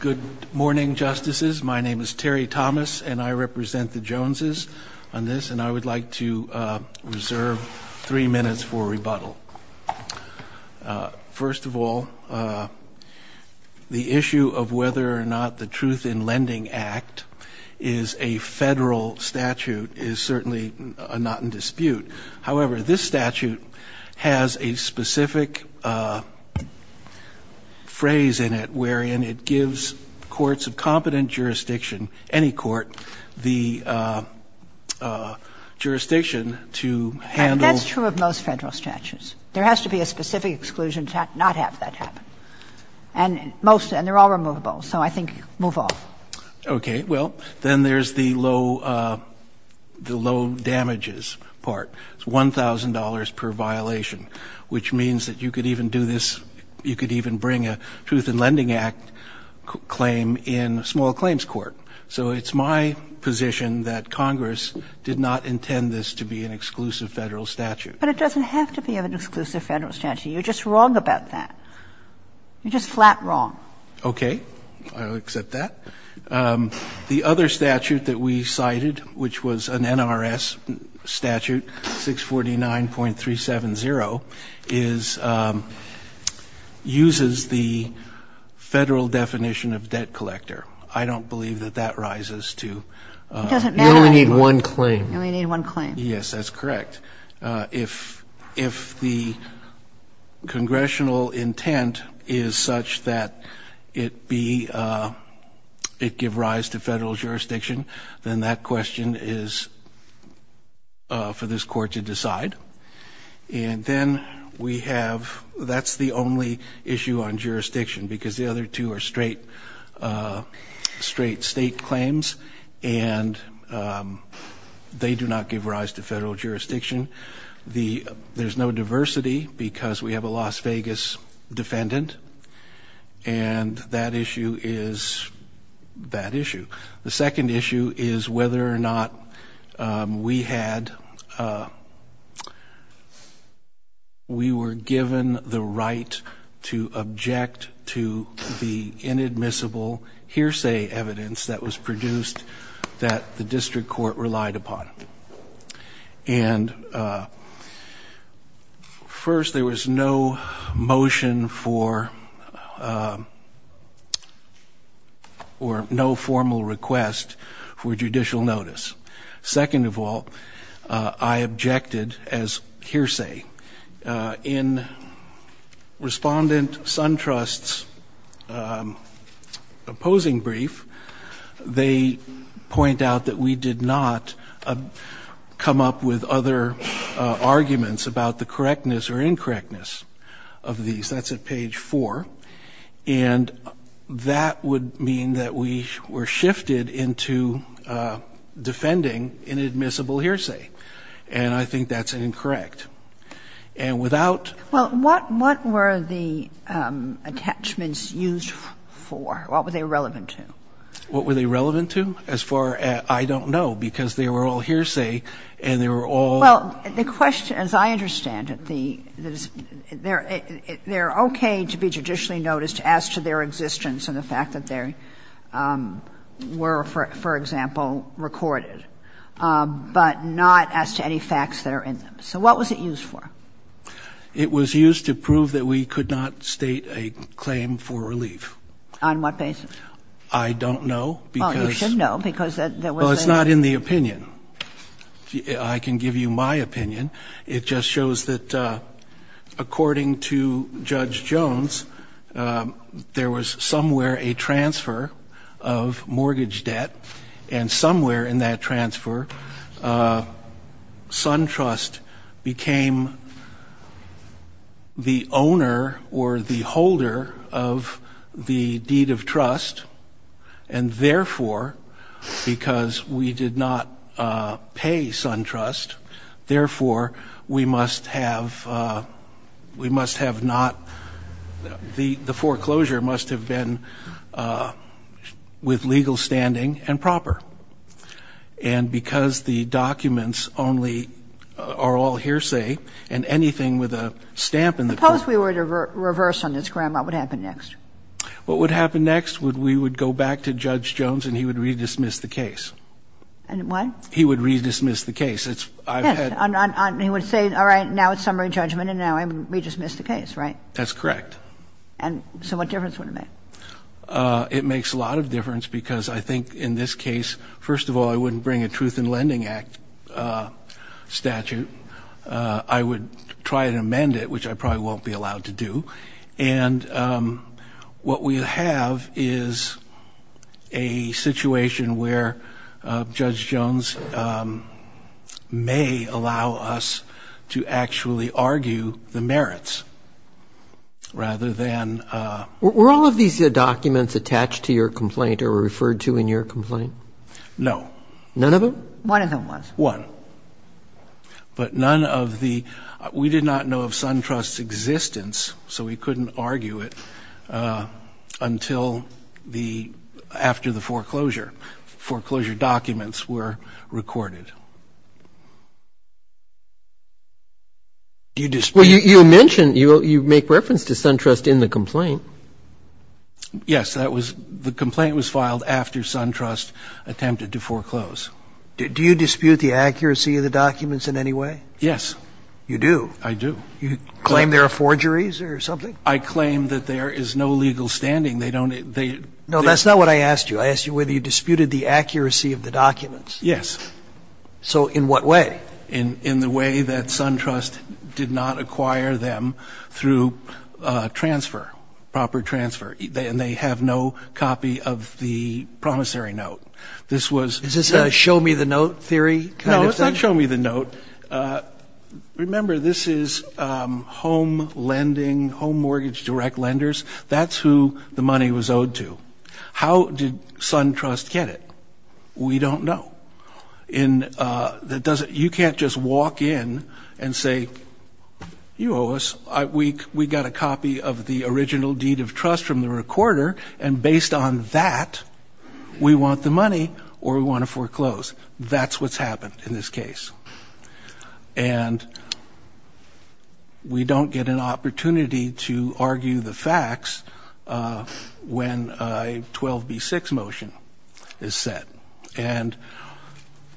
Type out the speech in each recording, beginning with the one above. Good morning, Justices. My name is Terry Thomas, and I represent the Joneses on this, and I would like to reserve three minutes for rebuttal. First of all, the issue of whether or not the Truth in Lending Act is a federal statute is certainly not in dispute. However, this statute has a specific phrase in it wherein it gives courts of competent jurisdiction, any court, the jurisdiction to handle. And that's true of most federal statutes. There has to be a specific exclusion to not have that happen. And most of them, they're all removable, so I think move on. Okay. Well, then there's the low damages part. It's $1,000 per violation, which means that you could even do this, you could even bring a Truth in Lending Act claim in a small claims court. So it's my position that Congress did not intend this to be an exclusive Federal statute. But it doesn't have to be an exclusive Federal statute. You're just wrong about that. You're just flat wrong. Okay. I'll accept that. The other statute that we cited, which was an NRS statute, 649.370, is uses the Federal definition of debt collector. I don't believe that that rises to. It doesn't matter. You only need one claim. You only need one claim. Yes, that's correct. If the Congressional intent is such that it be, it give rise to Federal jurisdiction, then that question is for this Court to decide. And then we have, that's the only issue on jurisdiction, because the other two are There's no diversity because we have a Las Vegas defendant. And that issue is that issue. The second issue is whether or not we had, we were given the right to object to the inadmissible hearsay evidence that was produced that the district court relied upon. And first, there was no motion for, or no formal request for judicial notice. Second of all, I objected as hearsay. In Respondent Suntrust's opposing brief, they point out that we did not come up with other arguments about the correctness or incorrectness of these. That's at page 4. And that would mean that we were shifted into defending inadmissible hearsay. And I think that's incorrect. And without Well, what were the attachments used for? What were they relevant to? What were they relevant to? As far as I don't know, because they were all hearsay and they were all Well, the question, as I understand it, they're okay to be judicially noticed as to their existence and the fact that they were, for example, recorded. But not as to any facts that are in them. So what was it used for? It was used to prove that we could not state a claim for relief. On what basis? I don't know, because Well, you should know, because there was Well, it's not in the opinion. I can give you my opinion. It just shows that according to Judge Jones, there was somewhere a transfer of mortgage debt, and somewhere in that transfer, SunTrust became the owner or the holder of the deed of trust. And therefore, because we did not pay SunTrust, therefore, we must have not the foreclosure must have been with legal standing and proper. And because the documents only are all hearsay and anything with a stamp in the Suppose we were to reverse on this, Grandma. What would happen next? What would happen next? We would go back to Judge Jones and he would redismiss the case. And what? He would redismiss the case. He would say, all right, now it's summary judgment. And now redismiss the case, right? That's correct. And so what difference would it make? It makes a lot of difference, because I think in this case, first of all, I wouldn't bring a Truth in Lending Act statute. I would try to amend it, which I probably won't be allowed to do. And what we have is a situation where Judge Jones may allow us to actually argue the merits, rather than... Were all of these documents attached to your complaint or referred to in your complaint? No. None of them? One of them was. One. But none of the... We did not know of SunTrust's existence, so we couldn't argue it until the... after the foreclosure. Foreclosure documents were recorded. Do you dispute... Well, you mentioned... You make reference to SunTrust in the complaint. Yes, that was... The complaint was filed after SunTrust attempted to foreclose. Do you dispute the accuracy of the documents in any way? Yes. You do? I do. You claim there are forgeries or something? I claim that there is no legal standing. They don't... No, that's not what I asked you. I asked you whether you disputed the accuracy of the documents. Yes. So in what way? In the way that SunTrust did not acquire them through transfer, proper transfer. And they have no copy of the promissory note. This was... Is this a show-me-the-note theory kind of thing? No, it's not show-me-the-note. Remember, this is home lending, home mortgage direct lenders. That's who the money was owed to. How did SunTrust get it? We don't know. In... You can't just walk in and say, you owe us. We got a copy of the original deed of trust from the recorder, and based on that, we want the money or we want to foreclose. That's what's happened in this case. And we don't get an opportunity to argue the facts when a 12B6 motion is set. And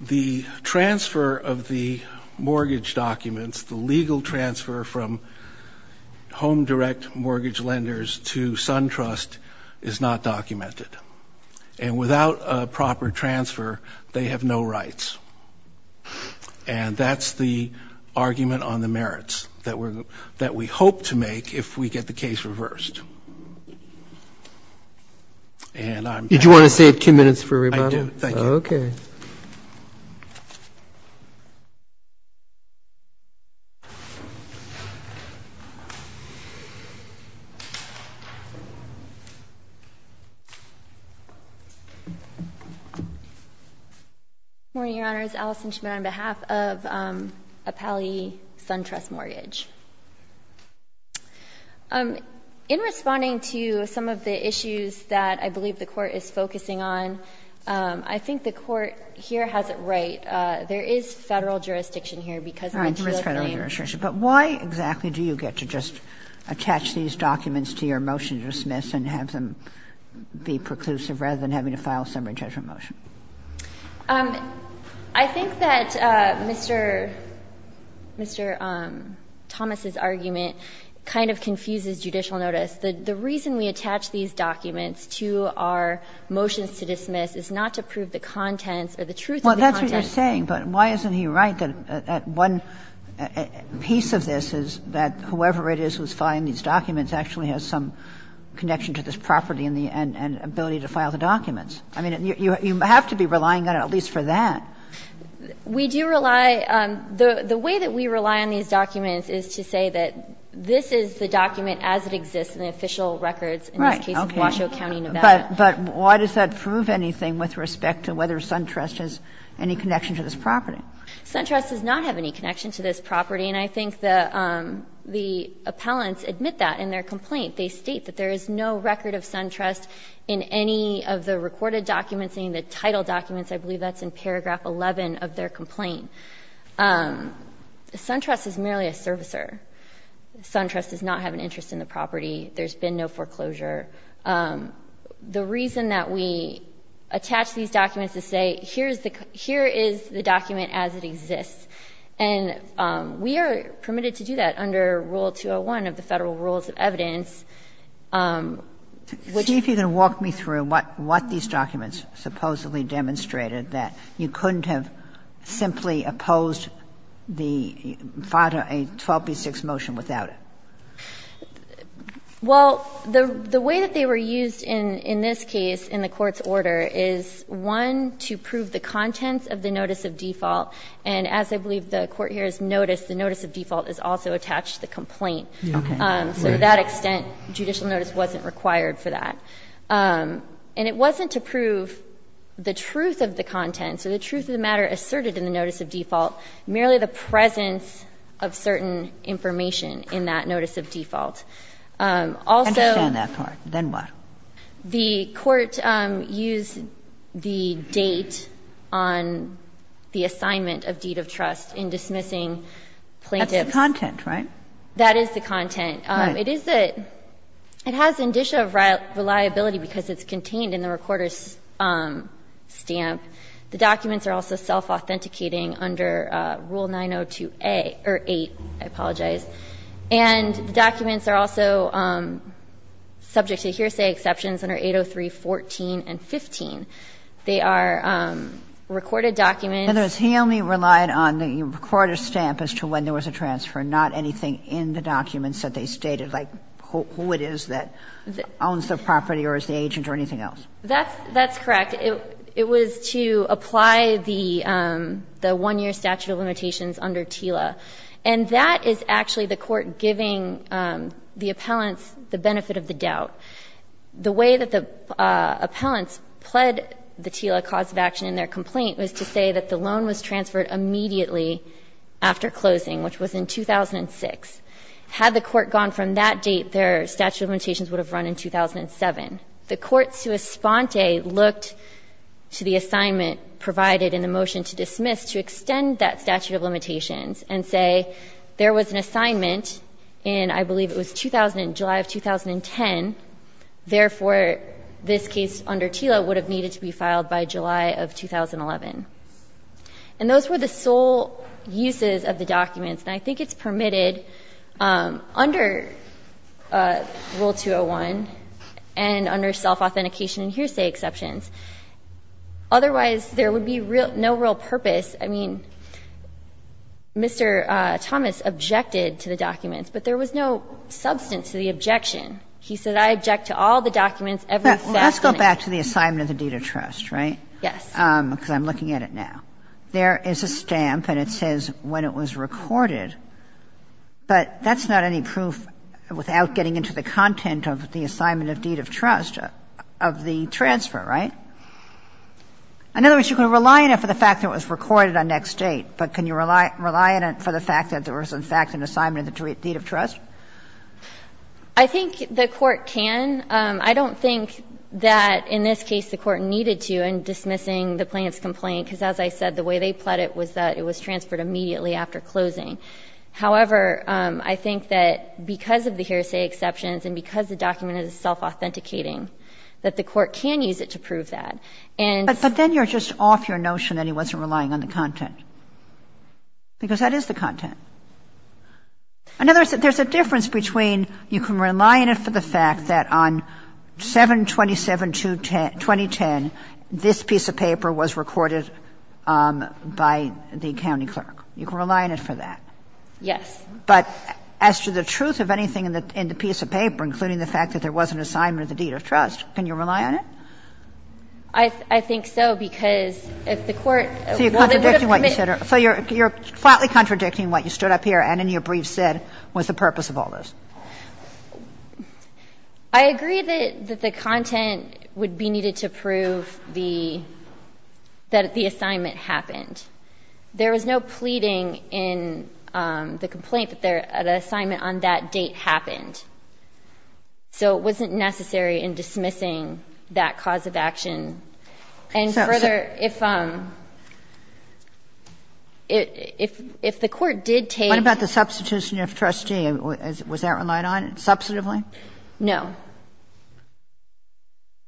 the transfer of the mortgage documents, the legal transfer from home direct mortgage lenders to SunTrust is not documented. And without a proper transfer, they have no rights. And that's the argument on the merits that we hope to make if we get the case reversed. And I'm... Did you want to save two minutes for rebuttal? I do. Thank you. Okay. Morning, Your Honors. Alison Schmitt on behalf of Appali SunTrust Mortgage. In responding to some of the issues that I believe the Court is focusing on, I think the Court here has it right. There is Federal jurisdiction here because of the two claims. All right. There is Federal jurisdiction. But why exactly do you get to just attach these documents to your motion to dismiss and have them be preclusive rather than having to file a summary judgment motion? I think that Mr. Thomas's argument kind of confuses judicial notice. The reason we attach these documents to our motions to dismiss is not to prove the contents or the truth of the contents. Well, that's what you're saying. But why isn't he right that one piece of this is that whoever it is who's filing these documents actually has some connection to this property and the ability to file the documents? I mean, you have to be relying on it at least for that. We do rely. The way that we rely on these documents is to say that this is the document as it exists in the official records in this case of Washoe County, Nevada. Right. But why does that prove anything with respect to whether SunTrust has any connection to this property? SunTrust does not have any connection to this property. And I think the appellants admit that in their complaint. They state that there is no record of SunTrust in any of the recorded documents, any of the title documents. I believe that's in paragraph 11 of their complaint. SunTrust is merely a servicer. SunTrust does not have an interest in the property. There's been no foreclosure. The reason that we attach these documents is to say here is the document as it exists. And we are permitted to do that under Rule 201 of the Federal Rules of Evidence. See if you can walk me through what these documents supposedly demonstrated that you couldn't have simply opposed the 12b6 motion without it. Well, the way that they were used in this case in the Court's order is, one, to prove the contents of the notice of default. And as I believe the Court here has noticed, the notice of default is also attached to the complaint. Okay. So to that extent, judicial notice wasn't required for that. And it wasn't to prove the truth of the content, so the truth of the matter asserted in the notice of default, merely the presence of certain information in that notice of default. Also the Court used the date on the assignment of deed of trust in dismissing plaintiffs. That's the content, right? That is the content. Right. It has indicia of reliability because it's contained in the recorder's stamp. The documents are also self-authenticating under Rule 902A or 8, I apologize. And the documents are also subject to hearsay exceptions under 803.14 and 15. They are recorded documents. In other words, he only relied on the recorder's stamp as to when there was a transfer, not anything in the documents that they stated, like who it is that owns the property or is the agent or anything else. That's correct. It was to apply the one-year statute of limitations under TILA. And that is actually the Court giving the appellants the benefit of the doubt. The way that the appellants pled the TILA cause of action in their complaint was to say that the loan was transferred immediately after closing, which was in 2006. Had the Court gone from that date, their statute of limitations would have run in 2007. The courts to esponte looked to the assignment provided in the motion to dismiss to extend that statute of limitations and say there was an assignment in, I believe it was 2000, July of 2010. Therefore, this case under TILA would have needed to be filed by July of 2011. And those were the sole uses of the documents. And I think it's permitted under Rule 201 and under self-authentication and hearsay exceptions. Otherwise, there would be no real purpose. I mean, Mr. Thomas objected to the documents, but there was no substance to the objection. He said, I object to all the documents, every fact on it. Well, let's go back to the assignment of the deed of trust, right? Yes. Because I'm looking at it now. There is a stamp and it says when it was recorded. But that's not any proof without getting into the content of the assignment of deed of trust, of the transfer, right? In other words, you can rely on it for the fact that it was recorded on next date, but can you rely on it for the fact that there was, in fact, an assignment of the deed of trust? I think the Court can. I don't think that in this case the Court needed to in dismissing the plaintiff's complaint, because as I said, the way they pled it was that it was transferred immediately after closing. However, I think that because of the hearsay exceptions and because the document is self-authenticating, that the Court can use it to prove that. And so then you're just off your notion that he wasn't relying on the content, because that is the content. In other words, there's a difference between you can rely on it for the fact that on 7-27-2010, this piece of paper was recorded by the county clerk. You can rely on it for that. Yes. But as to the truth of anything in the piece of paper, including the fact that there was an assignment of the deed of trust, can you rely on it? I think so, because if the Court wasn't going to permit it. So you're flatly contradicting what you stood up here and in your brief said was the purpose of all this. I agree that the content would be needed to prove the, that the assignment happened. There was no pleading in the complaint that the assignment on that date happened. So it wasn't necessary in dismissing that cause of action. And further, if the Court did take. What about the substitution of trustee? Was that relied on substantively? No.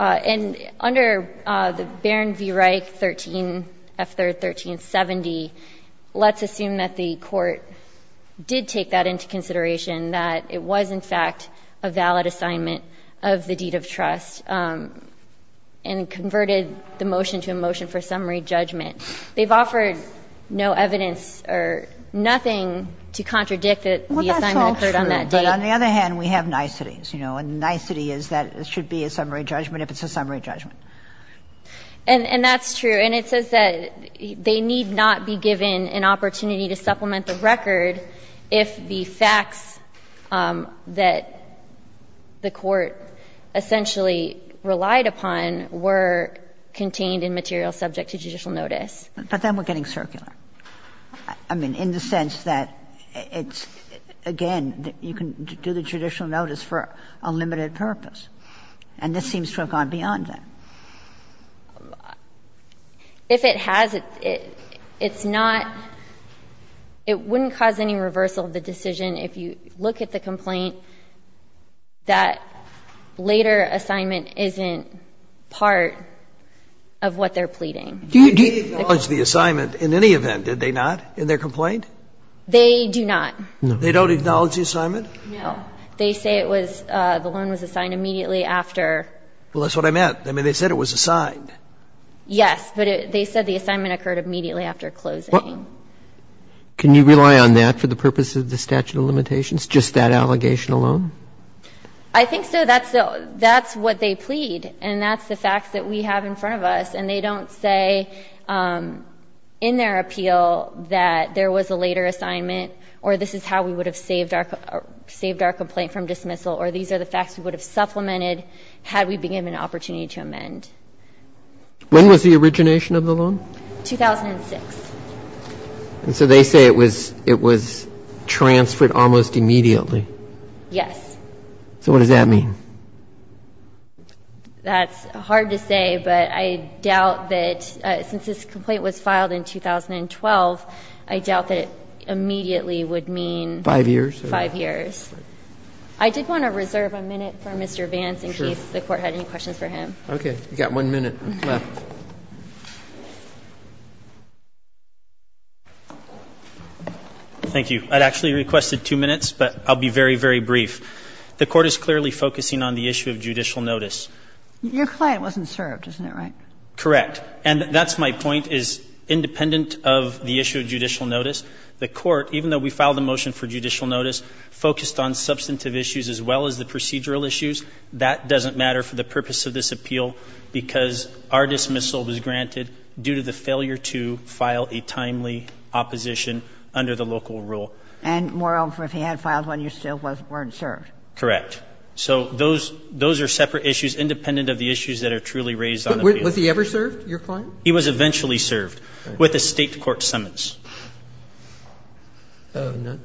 And under the Barron v. Reich 13, F-1370, let's assume that the Court did take that into consideration, that it was in fact a valid assignment of the deed of trust and converted the motion to a motion for summary judgment. They've offered no evidence or nothing to contradict that the assignment occurred on that date. Well, that's all true. But on the other hand, we have niceties. You know, a nicety is that it should be a summary judgment if it's a summary judgment. And that's true. And it says that they need not be given an opportunity to supplement the record if the facts that the Court essentially relied upon were contained in material subject to judicial notice. But then we're getting circular. I mean, in the sense that it's, again, you can do the judicial notice for a limited purpose, and this seems to have gone beyond that. If it has, it's not — it wouldn't cause any reversal of the decision if you look at the complaint that later assignment isn't part of what they're pleading. Do you acknowledge the assignment in any event, did they not, in their complaint? They do not. No. They don't acknowledge the assignment? No. They say it was — the loan was assigned immediately after. Well, that's what I meant. I mean, they said it was assigned. Yes. But they said the assignment occurred immediately after closing. Can you rely on that for the purpose of the statute of limitations, just that allegation I think so. That's what they plead. And that's the facts that we have in front of us, and they don't say in their appeal that there was a later assignment or this is how we would have saved our complaint from dismissal or these are the facts we would have supplemented had we been given an opportunity to amend. When was the origination of the loan? 2006. And so they say it was transferred almost immediately. Yes. So what does that mean? That's hard to say, but I doubt that — since this complaint was filed in 2012, I doubt that it immediately would mean — Five years? Five years. I did want to reserve a minute for Mr. Vance in case the Court had any questions for him. Okay. We've got one minute left. Thank you. I'd actually requested two minutes, but I'll be very, very brief. The Court is clearly focusing on the issue of judicial notice. Your client wasn't served, isn't that right? Correct. And that's my point, is independent of the issue of judicial notice, the Court, even though we filed the motion for judicial notice, focused on substantive issues as well as the procedural issues. That doesn't matter for the purpose of this appeal because our dismissal was granted due to the failure to file a timely opposition under the local rule. And moreover, if he had filed one, you still weren't served. Correct. So those are separate issues independent of the issues that are truly raised on the appeal. Was he ever served, your client? He was eventually served with a State court summons. But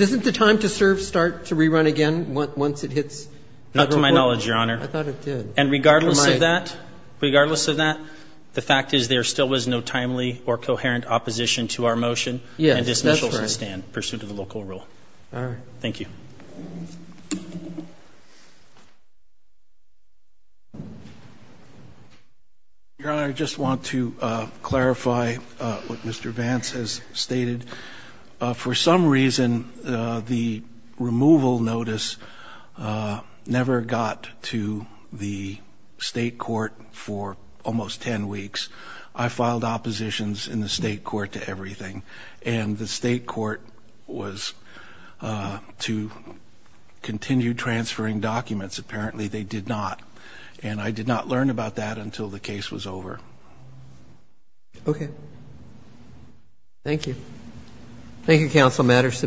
doesn't the time to serve start to rerun again once it hits the Court? Not to my knowledge, Your Honor. I thought it did. And regardless of that, regardless of that, the fact is there still was no timely or coherent opposition to our motion. Yes, that's right. And dismissal should stand pursuant to the local rule. All right. Thank you. Your Honor, I just want to clarify what Mr. Vance has stated. For some reason, the removal notice never got to the State court for almost 10 weeks. I filed oppositions in the State court to everything. And the State court was to continue transferring documents. Apparently, they did not. And I did not learn about that until the case was over. Okay. Thank you. Thank you, Counsel. Matters submitted.